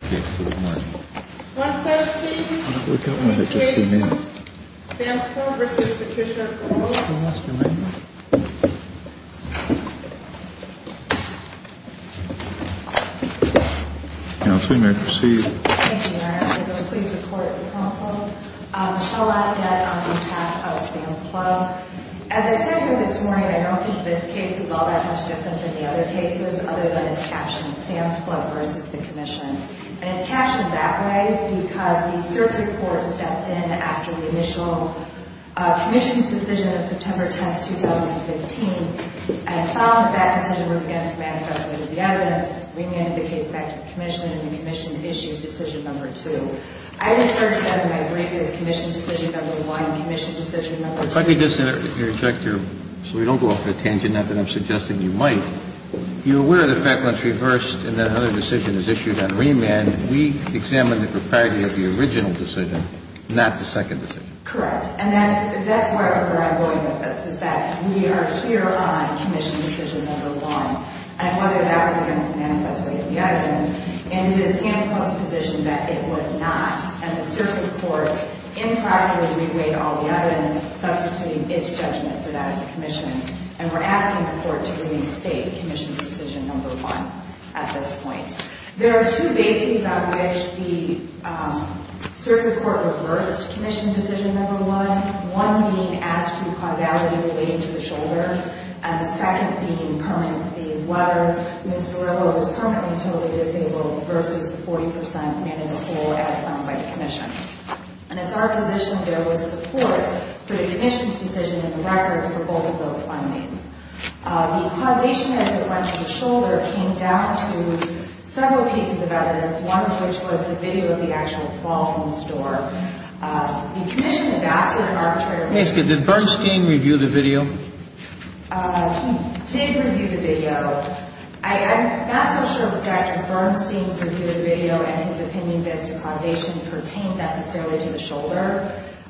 117, Sam's Club v. Patricia O'Connell Thank you, Mayor. I'd like to please report to the Council. Michelle Lafayette on behalf of Sam's Club. As I said here this morning, I don't think this case is all that much different than the other cases, other than it's captioned, Sam's Club v. the Commission. And it's captioned that way because the Circuit Court stepped in after the initial Commission's decision of September 10, 2015, and found that that decision was against the manifesto of the evidence, bringing the case back to the Commission, and the Commission issued decision number two. I refer to that in my brief as Commission decision number one, Commission decision number two. If I could just interject here, so we don't go off on a tangent, not that I'm suggesting you might. You're aware of the fact when it's reversed and another decision is issued on remand, we examine the propriety of the original decision, not the second decision. Correct. And that's where I'm going with this, is that we are here on Commission decision number one, and whether that was against the manifesto of the evidence. And it is Sam's Club's position that it was not. And the Circuit Court incorrectly reweighed all the evidence, substituting its judgment for that of the Commission. And we're asking the Court to release State Commission's decision number one at this point. There are two basings on which the Circuit Court reversed Commission decision number one, one being as to causality relating to the shoulder, and the second being permanency, meaning whether Ms. Varillo was permanently totally disabled versus the 40% and as a whole as found by the Commission. And it's our position there was support for the Commission's decision in the record for both of those findings. The causation as it went to the shoulder came down to several pieces of evidence, one of which was the video of the actual fall from the store. The Commission adopted arbitrary reviews. Did Bernstein review the video? He did review the video. I'm not so sure that Dr. Bernstein's review of the video and his opinions as to causation pertain necessarily to the shoulder.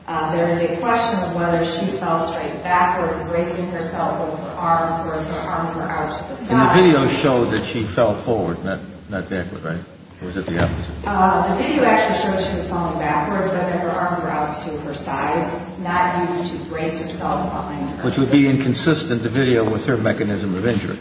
There is a question of whether she fell straight backwards, bracing herself over her arms, whereas her arms were out to the side. And the video showed that she fell forward, not backward, right? Or was it the opposite? The video actually showed she was falling backwards, but that her arms were out to her sides, not used to brace herself behind her. Which would be inconsistent, the video, with her mechanism of injury.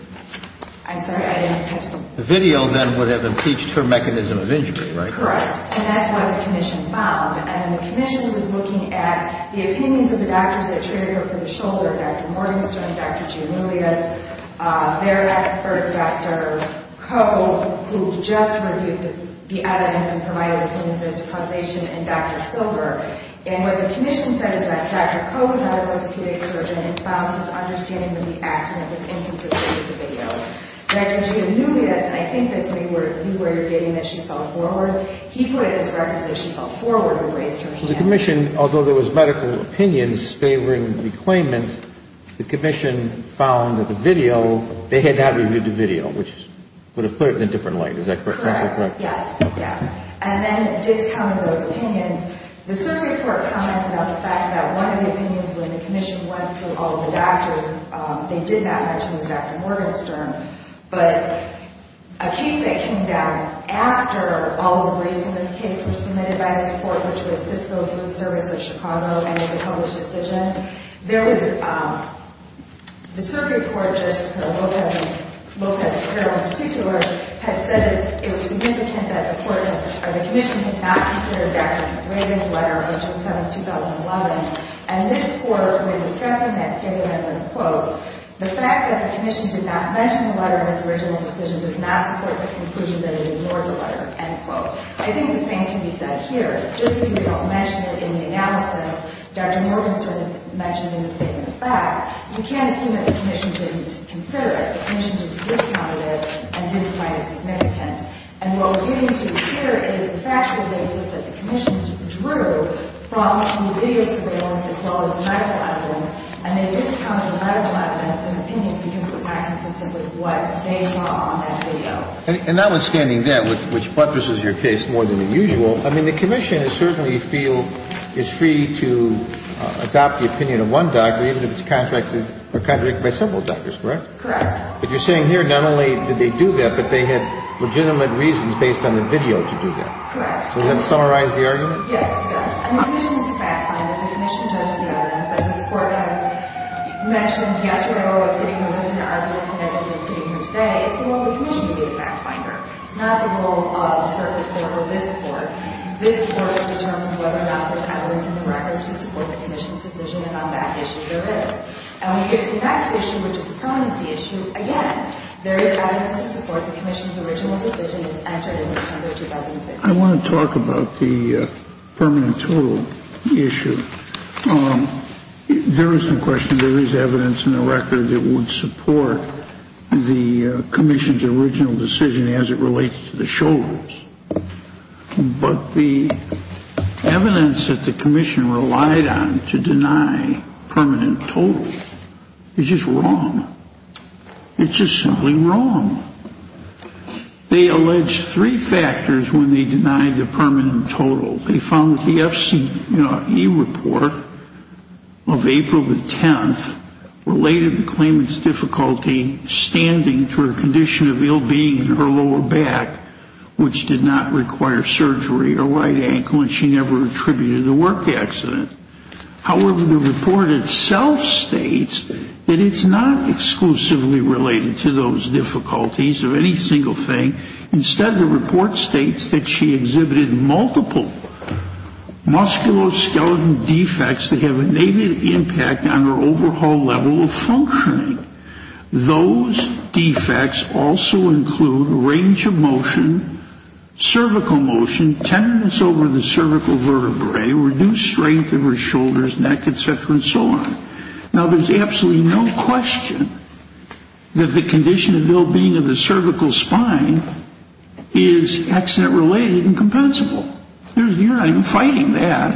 I'm sorry, I didn't catch that. The video, then, would have impeached her mechanism of injury, right? Correct. And that's what the Commission found. And the Commission was looking at the opinions of the doctors that treated her from the shoulder, Dr. Morgenstern, Dr. Giannoulias, their expert, Dr. Koh, who just reviewed the evidence and provided opinions as to causation, and Dr. Silver. And what the Commission said is that Dr. Koh, the medical orthopedic surgeon, had found his understanding of the accident was inconsistent with the video. Dr. Giannoulias, and I think this may be where you're getting that she fell forward, he put it as though she fell forward and braced her hands. The Commission, although there was medical opinions favoring the claimants, the Commission found that the video, they had to have reviewed the video, which would have put it in a different light, is that correct? Correct, yes. And then, discounting those opinions, the circuit court commented on the fact that one of the opinions when the Commission went through all of the doctors, they did not mention was Dr. Morgenstern, but a case that came down after all of the briefs in this case were submitted by this court, which was Cisco Food Service of Chicago, and it was a published decision, there was, the circuit court, just Lopez-Carroll in particular, had said that it was significant that the Commission did not consider Dr. Reagan's letter, which was sent in 2011, and this court, when discussing that statement, I'm going to quote, the fact that the Commission did not mention the letter in its original decision does not support the conclusion that it ignored the letter, end quote. I think the same can be said here. Just because they don't mention it in the analysis, Dr. Morgenstern has mentioned in the statement of facts, you can't assume that the Commission didn't consider it. The Commission just discounted it and didn't find it significant. And what we're getting to here is the fact that the Commission drew from the video surveillance as well as medical evidence, and they discounted the medical evidence and opinions because it was not consistent with what they saw on that video. And notwithstanding that, which buttresses your case more than usual, I mean, the Commission certainly feel is free to adopt the opinion of one doctor even if it's contradicted by several doctors, correct? Correct. But you're saying here not only did they do that, but they had legitimate reasons based on the video to do that. Correct. Does that summarize the argument? Yes, it does. And the Commission is a fact finder. The Commission judges the evidence. As this Court has mentioned yesterday where I was sitting and listening to arguments and as I've been sitting here today, it's the role of the Commission to be a fact finder. It's not the role of a certain court or this Court. This Court determines whether or not there's evidence in the record to support the Commission's decision on that issue. There is. And when you get to the next issue, which is the permanency issue, again, there is evidence to support the Commission's original decision as entered in September 2015. I want to talk about the permanent total issue. There is some question. There is evidence in the record that would support the Commission's original decision as it relates to the shoulders. But the evidence that the Commission relied on to deny permanent total is just wrong. It's just simply wrong. They allege three factors when they denied the permanent total. They found that the FCE report of April the 10th related the claimant's difficulty standing to her condition of ill being in her lower back, which did not require surgery or right ankle, and she never attributed the work accident. However, the report itself states that it's not exclusively related to those difficulties or any single thing. Instead, the report states that she exhibited multiple musculoskeletal defects that have an impact on her overall level of functioning. Those defects also include range of motion, cervical motion, tenderness over the cervical vertebrae, reduced strength of her shoulders, neck, et cetera, and so on. Now, there's absolutely no question that the condition of ill being of the cervical spine is accident-related and compensable. You're not even fighting that.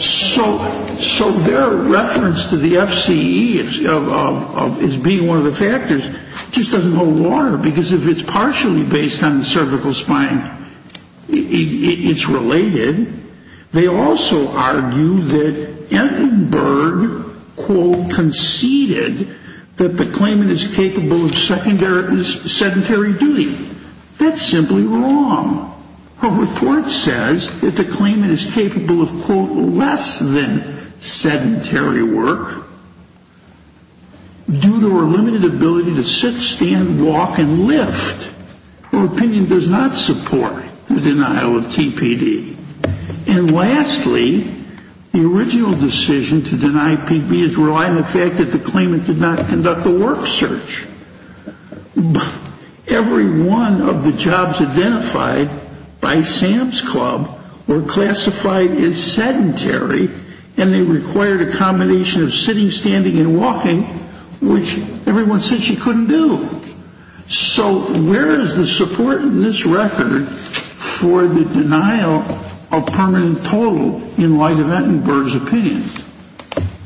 So their reference to the FCE as being one of the factors just doesn't hold water, because if it's partially based on the cervical spine, it's related. They also argue that Entenberg, quote, conceded that the claimant is capable of sedentary duty. That's simply wrong. Her report says that the claimant is capable of, quote, less than sedentary work due to her limited ability to sit, stand, walk, and lift. Her opinion does not support the denial of TPD. And lastly, the original decision to deny PB is reliant on the fact that the claimant did not conduct a work search. Every one of the jobs identified by Sam's Club were classified as sedentary, and they required a combination of sitting, standing, and walking, which everyone said she couldn't do. So where is the support in this record for the denial of permanent total in Lyda Entenberg's opinion?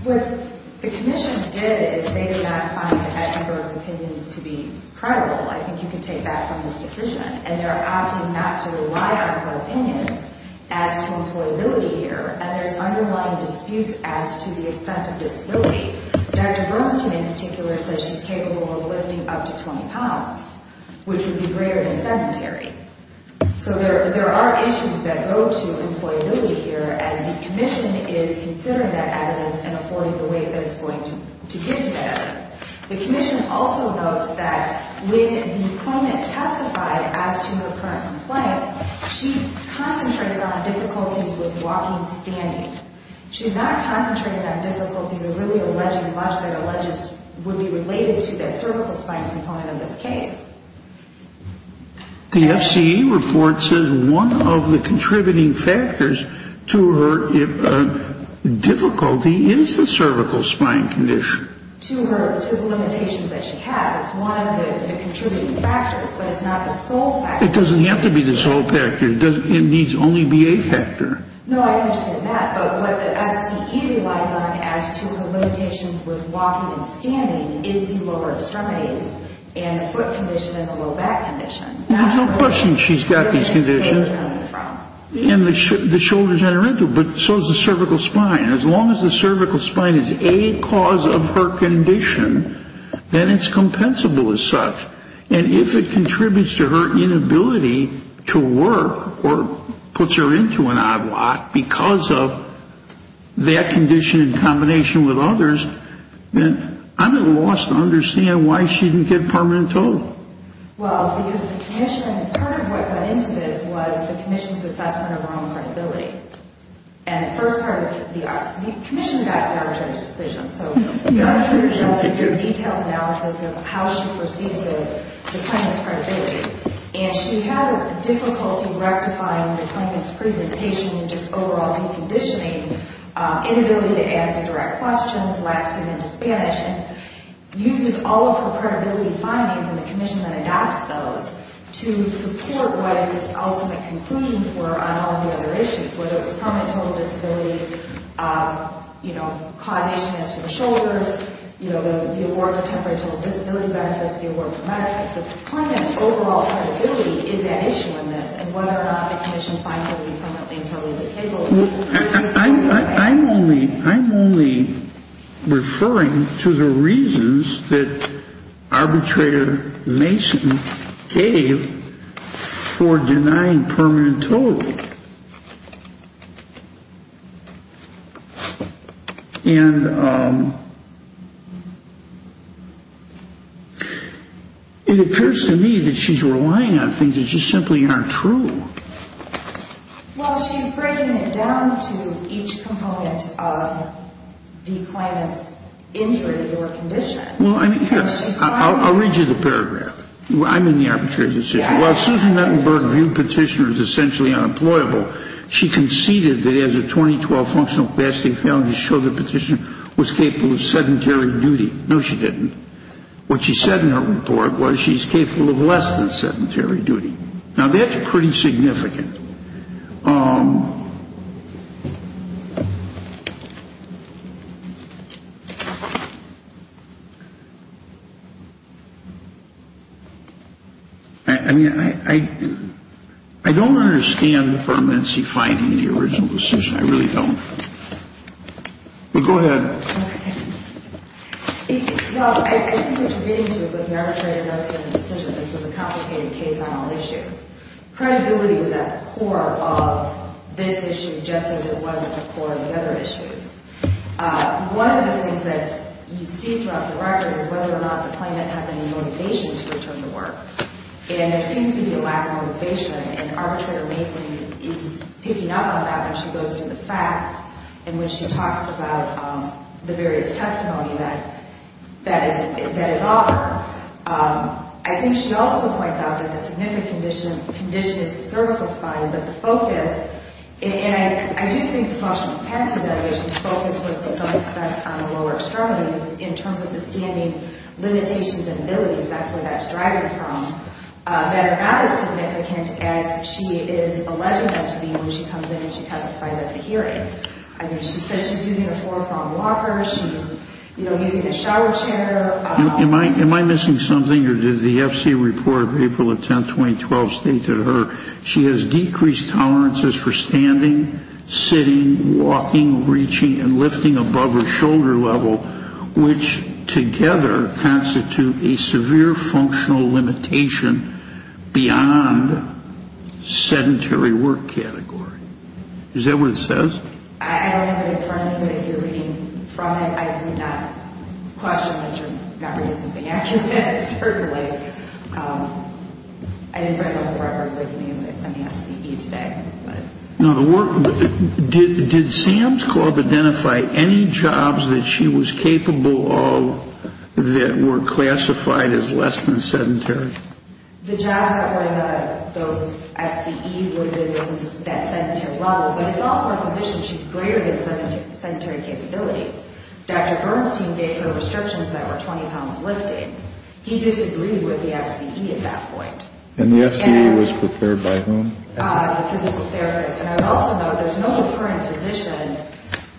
What the Commission did is they did not find Entenberg's opinions to be credible. I think you can take that from this decision. And they're opting not to rely on her opinions as to employability here, and there's underlying disputes as to the extent of disability. Dr. Bernstein, in particular, says she's capable of lifting up to 20 pounds, which would be greater than sedentary. So there are issues that go to employability here, and the Commission is considering that evidence and affording the weight that it's going to give to that evidence. The Commission also notes that when the claimant testified as to her current compliance, she concentrates on difficulties with walking and standing. She's not concentrating on difficulties or really alleging much that would be related to the cervical spine component of this case. The FCE report says one of the contributing factors to her difficulty is the cervical spine condition. To the limitations that she has, it's one of the contributing factors, but it's not the sole factor. It doesn't have to be the sole factor. It needs only be a factor. No, I understand that. But what the FCE relies on as to her limitations with walking and standing is the lower extremities and foot condition and the low back condition. There's no question she's got these conditions. And the shoulders that are injured, but so is the cervical spine. As long as the cervical spine is a cause of her condition, then it's compensable as such. And if it contributes to her inability to work or puts her into an odd lot because of that condition in combination with others, then I'm at a loss to understand why she didn't get permanent total. Well, because the commission, part of what went into this was the commission's assessment of her own credibility. And at first, the commission got the arbitration decision. So the arbitrators got a very detailed analysis of how she perceives the claimant's credibility. And she had difficulty rectifying the claimant's presentation and just overall deconditioning, inability to answer direct questions, laxing in Spanish, and uses all of her credibility findings and the commission that adopts those to support what its ultimate conclusions were on all the other issues, whether it was permanent total disability causation as to the shoulders, the award for temporary total disability benefits, the award for medical benefits. The claimant's overall credibility is at issue in this and whether or not the commission finds her to be permanently and totally disabled. I'm only referring to the reasons that arbitrator Mason gave for denying permanent total. And it appears to me that she's relying on things that just simply aren't true. Well, she's breaking it down to each component of the claimant's injury or condition. Well, I mean, yes. I'll read you the paragraph. I'm in the arbitration decision. While Susan Nettenberg viewed Petitioner as essentially unemployable, she conceded that as a 2012 functional capacity found to show that Petitioner was capable of sedentary duty. No, she didn't. What she said in her report was she's capable of less than sedentary duty. Now, that's pretty significant. I mean, I don't understand the permanency finding in the original decision. I really don't. But go ahead. Well, I think what you're getting to is what the arbitrator notes in the decision. This was a complicated case on all issues. Credibility was at the core of this issue just as it was at the core of the other issues. One of the things that you see throughout the record is whether or not the claimant has any motivation to return to work. And there seems to be a lack of motivation. And arbitrator Mason is picking up on that when she goes through the facts and when she talks about the various testimony that is offered. I think she also points out that the significant condition is the cervical spine, but the focus, and I do think the functional capacity motivation's focus was to some extent on the lower extremities in terms of the standing limitations and abilities, that's where that's driving from, that are not as significant as she is alleging them to be when she comes in and she testifies at the hearing. I mean, she says she's using a four-pronged walker, she's, you know, using a shower chair. Am I missing something, or did the FC report of April 10, 2012, state to her, she has decreased tolerances for standing, sitting, walking, reaching, and lifting above her shoulder level, which together constitute a severe functional limitation beyond sedentary work category. Is that what it says? I don't have it in front of me, but if you're reading from it, I do not question that you're not reading something out of it, certainly. I didn't bring the whole record with me on the FCE today. Did Sam's Club identify any jobs that she was capable of that were classified as less than sedentary? The jobs that were in the FCE would have been in the best sedentary level, but it's also in a position she's greater than sedentary capabilities. Dr. Bernstein gave her restrictions that were 20 pounds lifting. He disagreed with the FCE at that point. And the FCE was prepared by whom? The physical therapist. And I would also note there's no current physician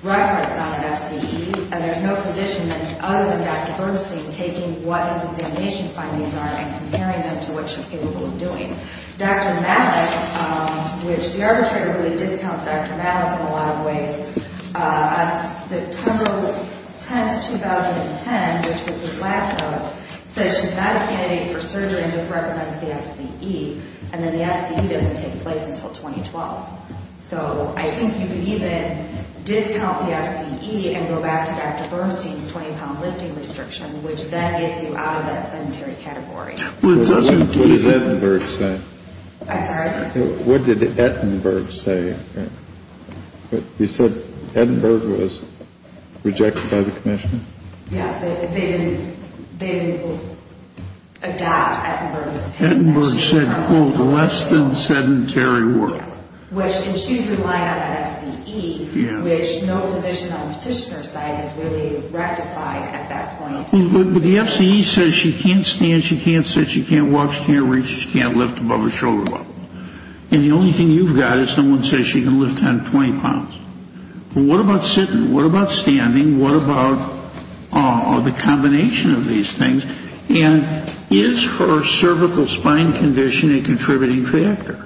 referenced on the FCE, and there's no physician other than Dr. Bernstein taking what his examination findings are and comparing them to what she's capable of doing. Dr. Malik, which the arbitrator really discounts Dr. Malik in a lot of ways, on September 10, 2010, which was his last note, says she's not a candidate for surgery and just recommends the FCE, and then the FCE doesn't take place until 2012. So I think you can even discount the FCE and go back to Dr. Bernstein's 20-pound lifting restriction, which then gets you out of that sedentary category. What does Ettenberg say? I'm sorry? What did Ettenberg say? He said Ettenberg was rejected by the commission? Yeah, they didn't adopt Ettenberg's opinion. Ettenberg said, quote, less than sedentary work. And she's relying on an FCE, which no physician on the petitioner side has really rectified at that point. But the FCE says she can't stand, she can't sit, she can't walk, she can't reach, she can't lift above her shoulder level. And the only thing you've got is someone says she can lift 10, 20 pounds. But what about sitting? What about standing? What about the combination of these things? And is her cervical spine condition a contributing factor?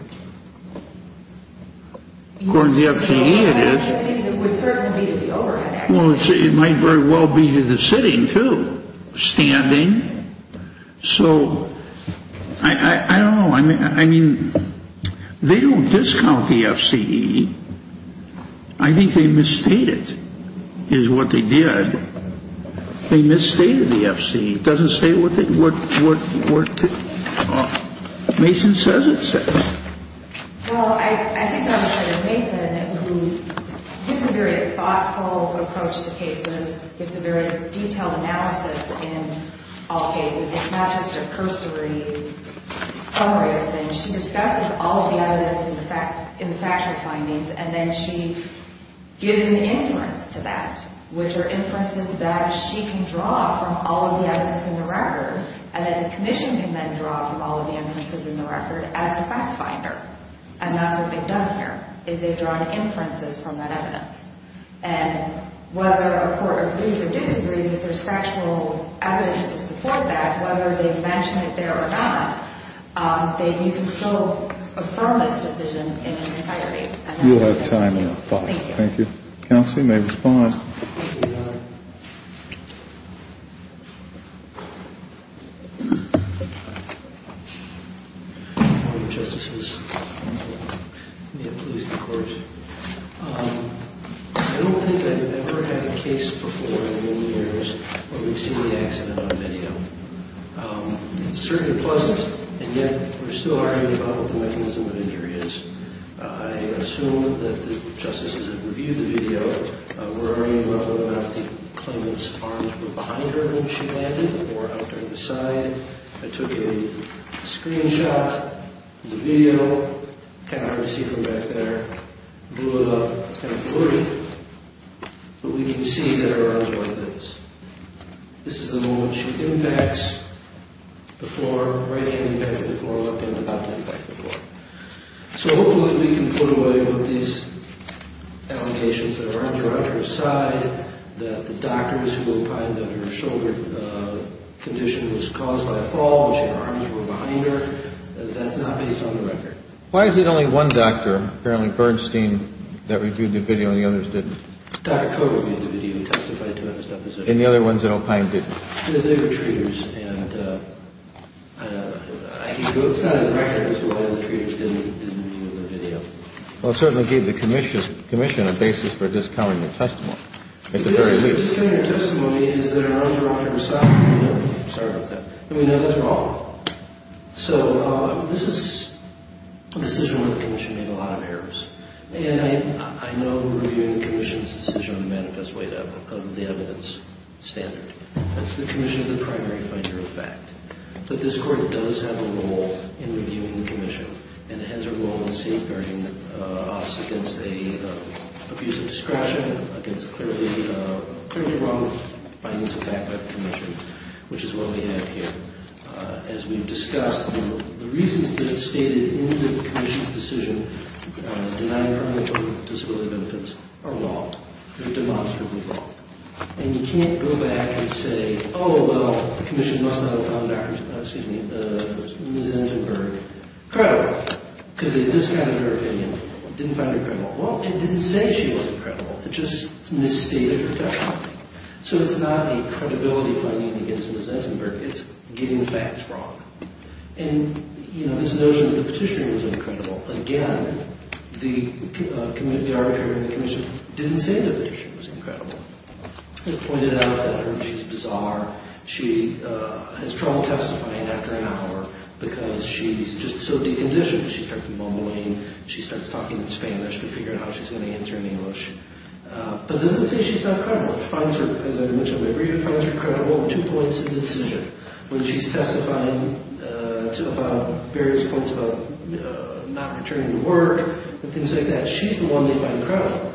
According to the FCE, it is. Well, it might very well be to the sitting, too. Standing? So I don't know. I mean, they don't discount the FCE. I think they misstated is what they did. They misstated the FCE. It doesn't say what they would do. Mason says it says. Well, I think I'm going to say Mason, who gives a very thoughtful approach to cases, gives a very detailed analysis in all cases. It's not just a cursory summary of things. She discusses all of the evidence in the factual findings, and then she gives an inference to that, which are inferences that she can draw from all of the evidence in the record, and then the commission can then draw from all of the inferences in the record as the fact finder. And that's what they've done here, is they've drawn inferences from that evidence. And whether a court agrees or disagrees that there's factual evidence to support that, whether they've mentioned it there or not, you can still affirm this decision in its entirety. You'll have time now. Thank you. Thank you. Counsel, you may respond. Thank you, Your Honor. Good morning, Justices. May it please the Court. I don't think I have ever had a case before in many years where we've seen an accident on video. It's certainly pleasant, and yet we're still arguing about what the mechanism of injury is. I assume that the justices that reviewed the video were arguing about whether or not the claimant's arms were behind her when she landed or out to the side. I took a screenshot of the video. It's kind of hard to see from back there. I blew it up. It's kind of blurry. But we can see that her arm's like this. This is the moment she impacts the floor, right-hand impact of the floor, left-hand impact of the floor. So hopefully we can put away what these allegations that her arms were out to her side, that the doctors who opined that her shoulder condition was caused by a fall, and her arms were behind her. That's not based on the record. Why is it only one doctor, apparently Bernstein, that reviewed the video and the others didn't? Dr. Cote reviewed the video. He testified to it in his deposition. And the other ones that opined didn't? They were treaters. Well, it certainly gave the commission a basis for discovering her testimony. The basis for discovering her testimony is that her arms were off her side. Sorry about that. And we know that's wrong. So this is a decision where the commission made a lot of errors. And I know reviewing the commission's decision on the medicals weight of the evidence standard. That's the commission's primary finding. But this court does have a role in reviewing the commission. And it has a role in safeguarding us against an abuse of discretion, against clearly wrong findings of fact by the commission, which is what we have here. As we've discussed, the reasons that are stated in the commission's decision denying her an open disability of infants are wrong. They're demonstrably wrong. And you can't go back and say, oh, well, the commission must not have found Ms. Entenberg credible because they discounted her opinion, didn't find her credible. Well, it didn't say she wasn't credible. It just misstated her testimony. So it's not a credibility finding against Ms. Entenberg. It's getting facts wrong. And this notion of the petitioner was incredible. Again, the arbitrator in the commission didn't say the petitioner was incredible. It pointed out that she's bizarre. She has trouble testifying after an hour because she's just so deconditioned. She starts mumbling. She starts talking in Spanish to figure out how she's going to answer in English. But it doesn't say she's not credible. It finds her, as I mentioned in my brief, it finds her credible. Two points in the decision. When she's testifying about various points about not returning to work and things like that, she's the one they find credible.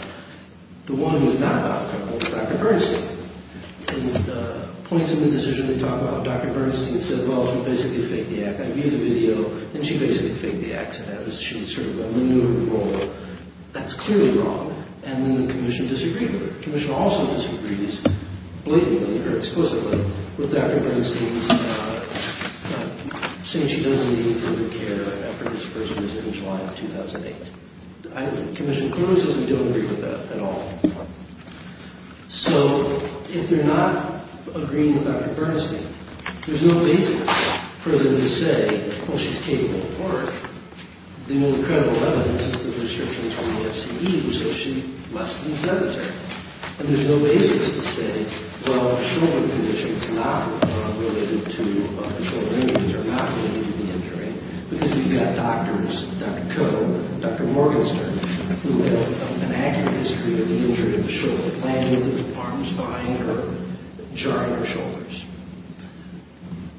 The one who's not credible is Dr. Bernstein. In the points in the decision they talk about, Dr. Bernstein said, well, she basically faked the accident. I viewed the video, and she basically faked the accident. She sort of maneuvered the role. That's clearly wrong, and the commission disagreed with her. The commission also disagrees blatantly or explicitly with Dr. Bernstein saying she doesn't need further care after this person was hit in July of 2008. The commission clearly says we don't agree with that at all. So if they're not agreeing with Dr. Bernstein, there's no basis for them to say, well, she's capable of work. The only credible evidence is the research from the FCD, so she must be sedentary. And there's no basis to say, well, the shoulder condition is not related to the shoulder injury or not related to the injury because we've got doctors, Dr. Koh and Dr. Morgenstern, who have an accurate history of the injury of the shoulder, landing with the arms behind her, jarring her shoulders.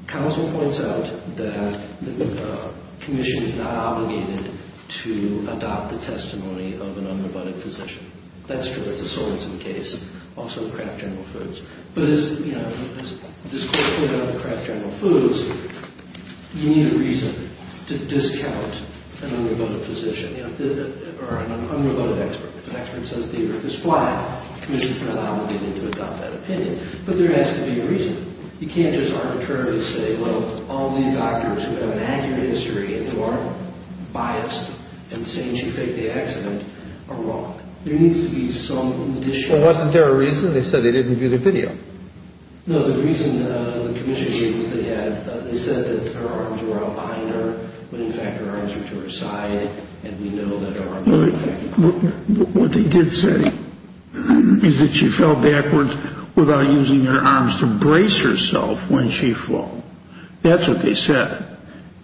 Counsel points out that the commission is not obligated to adopt the testimony of an unrebutted physician. That's true. That's a solvency case. Also Kraft General Foods. But, you know, there's this whole thing about Kraft General Foods. You need a reason to discount an unrebutted physician or an unrebutted expert. An expert says the earth is flat. The commission is not obligated to adopt that opinion. But there has to be a reason. You can't just arbitrarily say, well, all these doctors who have an accurate history and who are biased in saying she faked the accident are wrong. There needs to be some addition. Wasn't there a reason? They said they didn't view the video. No, the reason the commission gave is they said that her arms were out behind her when, in fact, her arms were to her side. And we know that her arms were to her side. What they did say is that she fell backwards without using her arms to brace herself when she fell. That's what they said.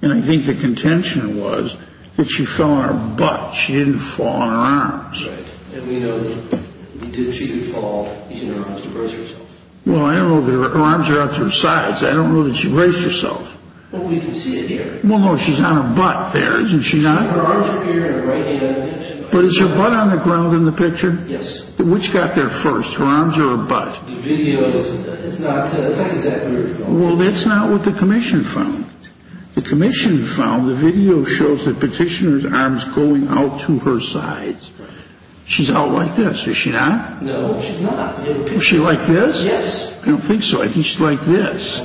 And I think the contention was that she fell on her butt. She didn't fall on her arms. Right. And we know that she didn't fall using her arms to brace herself. Well, I don't know that her arms are out to her sides. I don't know that she braced herself. Well, we can see it here. Well, no, she's on her butt there, isn't she not? Her arms are here in her right hand. But is her butt on the ground in the picture? Yes. Which got there first, her arms or her butt? The video is not exactly where it's going. Well, that's not what the commission found. The commission found the video shows the petitioner's arms going out to her sides. Right. She's out like this. Is she not? No, she's not. Is she like this? Yes. I don't think so. I think she's like this.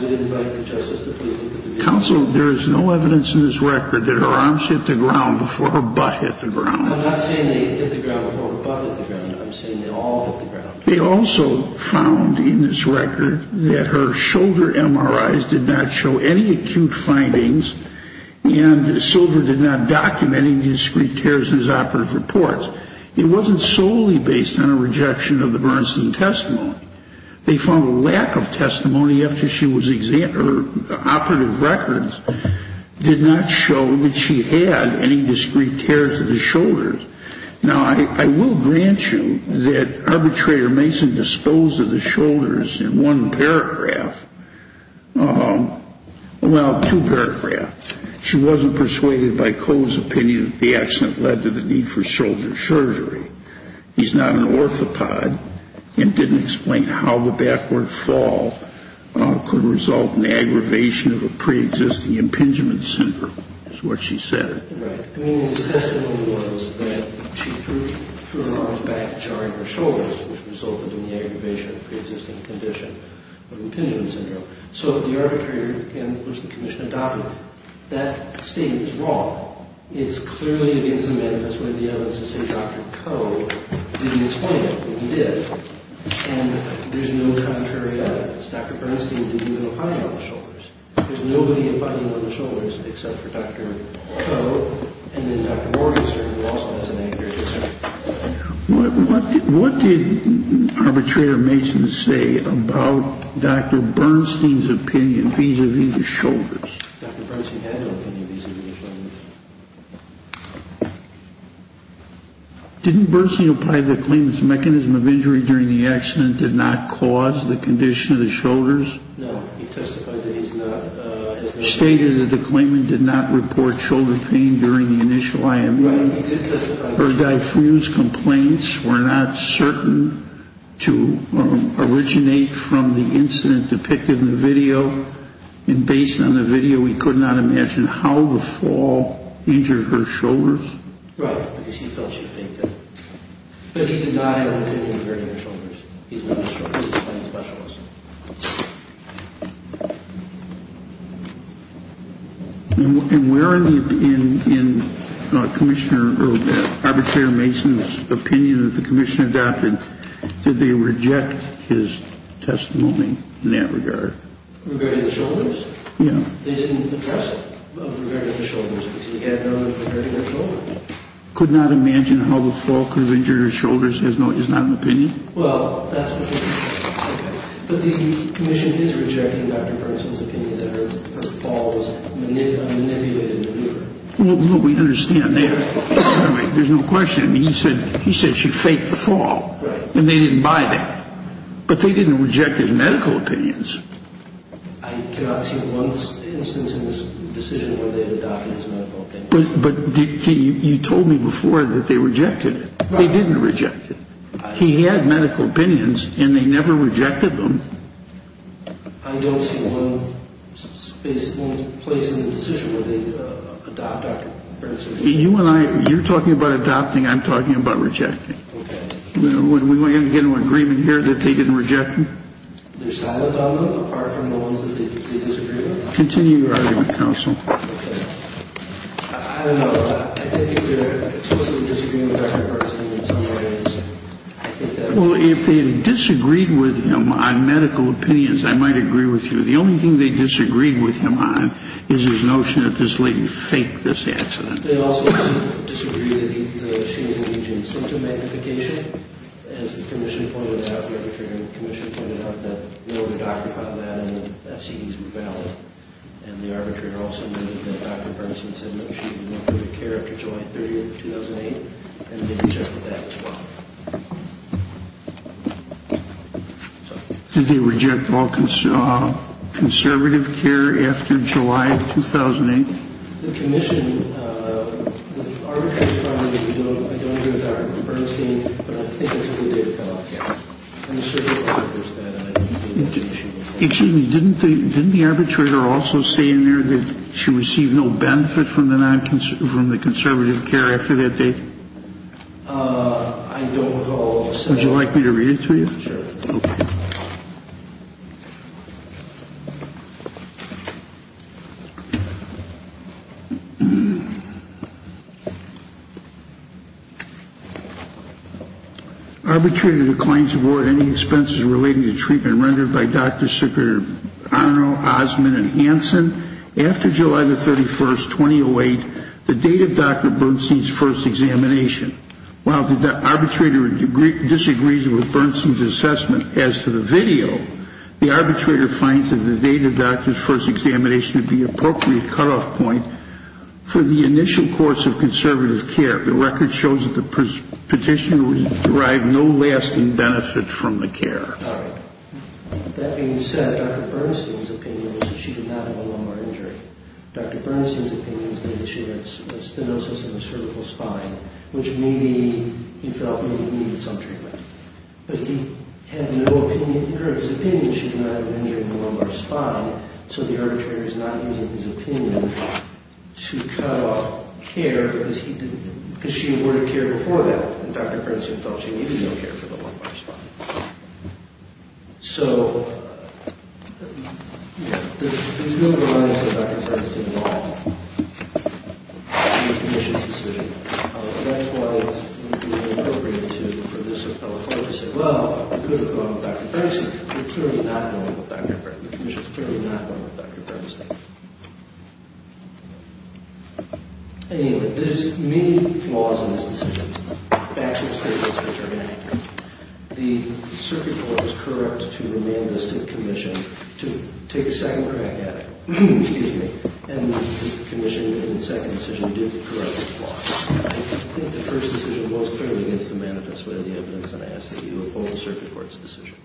Counsel, there is no evidence in this record that her arms hit the ground before her butt hit the ground. I'm not saying they hit the ground before her butt hit the ground. I'm saying they all hit the ground. They also found in this record that her shoulder MRIs did not show any acute findings and Silver did not document any discreet tears in his operative reports. It wasn't solely based on a rejection of the Bernstein testimony. They found a lack of testimony after she was examined. Her operative records did not show that she had any discreet tears in the shoulders. Now, I will grant you that arbitrator Mason disposed of the shoulders in one paragraph. Well, two paragraphs. She wasn't persuaded by Coe's opinion that the accident led to the need for shoulder surgery. He's not an orthopod and didn't explain how the backward fall could result in the aggravation of a preexisting impingement syndrome, is what she said. Right. I mean, his testimony was that she threw her arms back, charring her shoulders, which resulted in the aggravation of a preexisting condition of impingement syndrome. So, the arbitrator and, of course, the commission adopted that statement as wrong. It's clearly against the manifesto to say Dr. Coe didn't explain it, but he did. And there's no contrary evidence. Dr. Bernstein didn't even apply it on the shoulders. There's nobody applying it on the shoulders except for Dr. Coe and then Dr. Morrison who also has an anger disorder. What did arbitrator Mason say about Dr. Bernstein's opinion vis-à-vis the shoulders? Dr. Bernstein had no opinion vis-à-vis the shoulders. Didn't Bernstein apply the claim that the mechanism of injury during the accident did not cause the condition of the shoulders? No, he testified that he's not. He stated that the claimant did not report shoulder pain during the initial IME. Right, he did testify. Her diffuse complaints were not certain to originate from the incident depicted in the video. And based on the video, we could not imagine how the fall injured her shoulders. Right, because he felt she fainted. But he did not have an opinion regarding her shoulders. He's not a shoulder pain specialist. And where in the, in Commissioner, or arbitrator Mason's opinion that the Commissioner adopted, did they reject his testimony in that regard? Regarding the shoulders? Yeah. They didn't address it regarding the shoulders. Because he had none regarding her shoulders. Could not imagine how the fall could have injured her shoulders is not an opinion? Well, that's what he said. Okay. But the Commissioner is rejecting Dr. Bernstein's opinion that her fall was manipulated. Well, we understand that. There's no question. He said she fainted the fall. Right. And they didn't buy that. But they didn't reject his medical opinions. I cannot see one instance in this decision where they adopted his medical opinions. But you told me before that they rejected it. Right. They didn't reject it. He had medical opinions, and they never rejected them. I don't see one place in the decision where they adopted Dr. Bernstein's opinion. You and I, you're talking about adopting. I'm talking about rejecting. Okay. We're going to get an agreement here that they didn't reject him. They're silent on them, apart from the ones that they disagree with. Continue your argument, Counsel. Okay. I don't know. I think they're explicitly disagreeing with Dr. Bernstein in some ways. Well, if they disagreed with him on medical opinions, I might agree with you. The only thing they disagreed with him on is his notion that this lady faked this accident. They also disagreed that she was engaged in symptom magnification. As the Commissioner pointed out, the Arbitrator and the Commissioner pointed out, that no, the doctor found that, and the FCDs were valid. And the Arbitrator also noted that Dr. Bernstein said no, she did not go to care after July 30, 2008. And they rejected that as well. Did they reject all conservative care after July of 2008? The Commission, the Arbitrator said, I don't agree with Dr. Bernstein, but I think that's a good day to call off care. And the FCDs said that. Excuse me, didn't the Arbitrator also say in there that she received no benefit from the conservative care after that date? I don't know. Would you like me to read it to you? Sure. Okay. Arbitrator declines to award any expenses relating to treatment rendered by Drs. Ciccarone, Osmond, and Hansen after July 31, 2008, the date of Dr. Bernstein's first examination. While the Arbitrator disagrees with Bernstein's assessment as to the victim, the Arbitrator finds that the date of Dr. Bernstein's first examination would be an appropriate cutoff point for the initial course of conservative care. The record shows that the petitioner would derive no lasting benefit from the care. All right. That being said, Dr. Bernstein's opinion was that she did not have a lumbar injury. Dr. Bernstein's opinion was that she had stenosis in her cervical spine, which maybe he felt needed some treatment. But he had no opinion, or his opinion, that she did not have an injury in the lumbar spine, so the Arbitrator is not using his opinion to cut off care because she awarded care before that, and Dr. Bernstein felt she needed no care for the lumbar spine. So, yeah, there's no reliance on Dr. Bernstein's opinion at all on the Petitioner's decision. That's why it's appropriate for this appellate court to say, well, you could have gone with Dr. Bernstein, but you're clearly not going with Dr. Bernstein. The Commission's clearly not going with Dr. Bernstein. Anyway, there's many flaws in this decision. Back to the statements that you're going to hear. The Circuit Court was correct to remand this to the Commission to take a second crack at it. Excuse me. And the Commission, in the second decision, did correct this flaw. I think the first decision goes clearly against the manifest way of the evidence, and I ask that you oppose the Circuit Court's decision.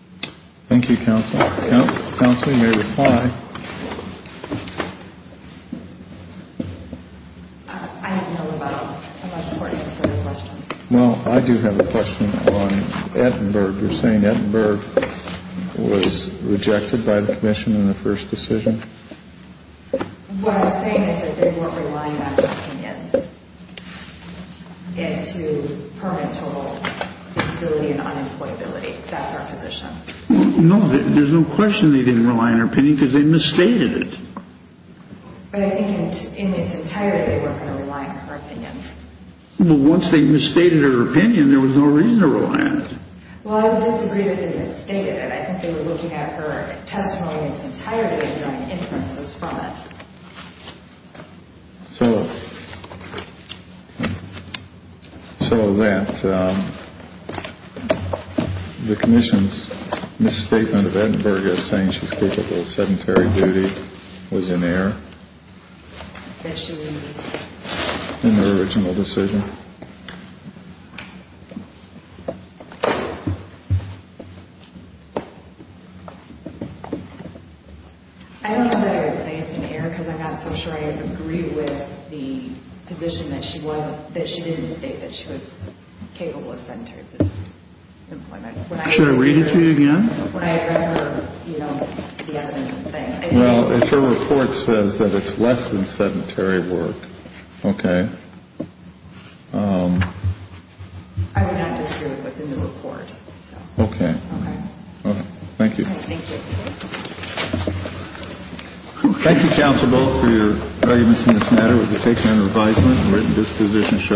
Thank you, Counsel. Counsel, you may reply. I have no other questions. Well, I do have a question on Ettenberg. You're saying Ettenberg was rejected by the Commission in the first decision? What I'm saying is that they weren't relying on her opinions as to permanent total disability and unemployability. That's our position. No, there's no question they didn't rely on her opinion because they misstated it. But I think in its entirety, they weren't going to rely on her opinions. Well, once they misstated her opinion, there was no reason to rely on it. Well, I would disagree that they misstated it. I think they were looking at her testimonies entirely and drawing inferences from it. So that the Commission's misstatement of Ettenberg as saying she's capable of sedentary duty was in error? That she was? In her original decision. I don't know that I would say it's in error because I'm not so sure I agree with the position that she was that she didn't state that she was capable of sedentary employment. Should I read it to you again? When I read her, you know, the evidence and things. Well, if her report says that it's less than sedentary work, okay. I would not disagree with what's in the report. Okay. All right. Thank you. Thank you. Thank you, counsel, both for your arguments in this matter. We've taken an advisement and written dispositions.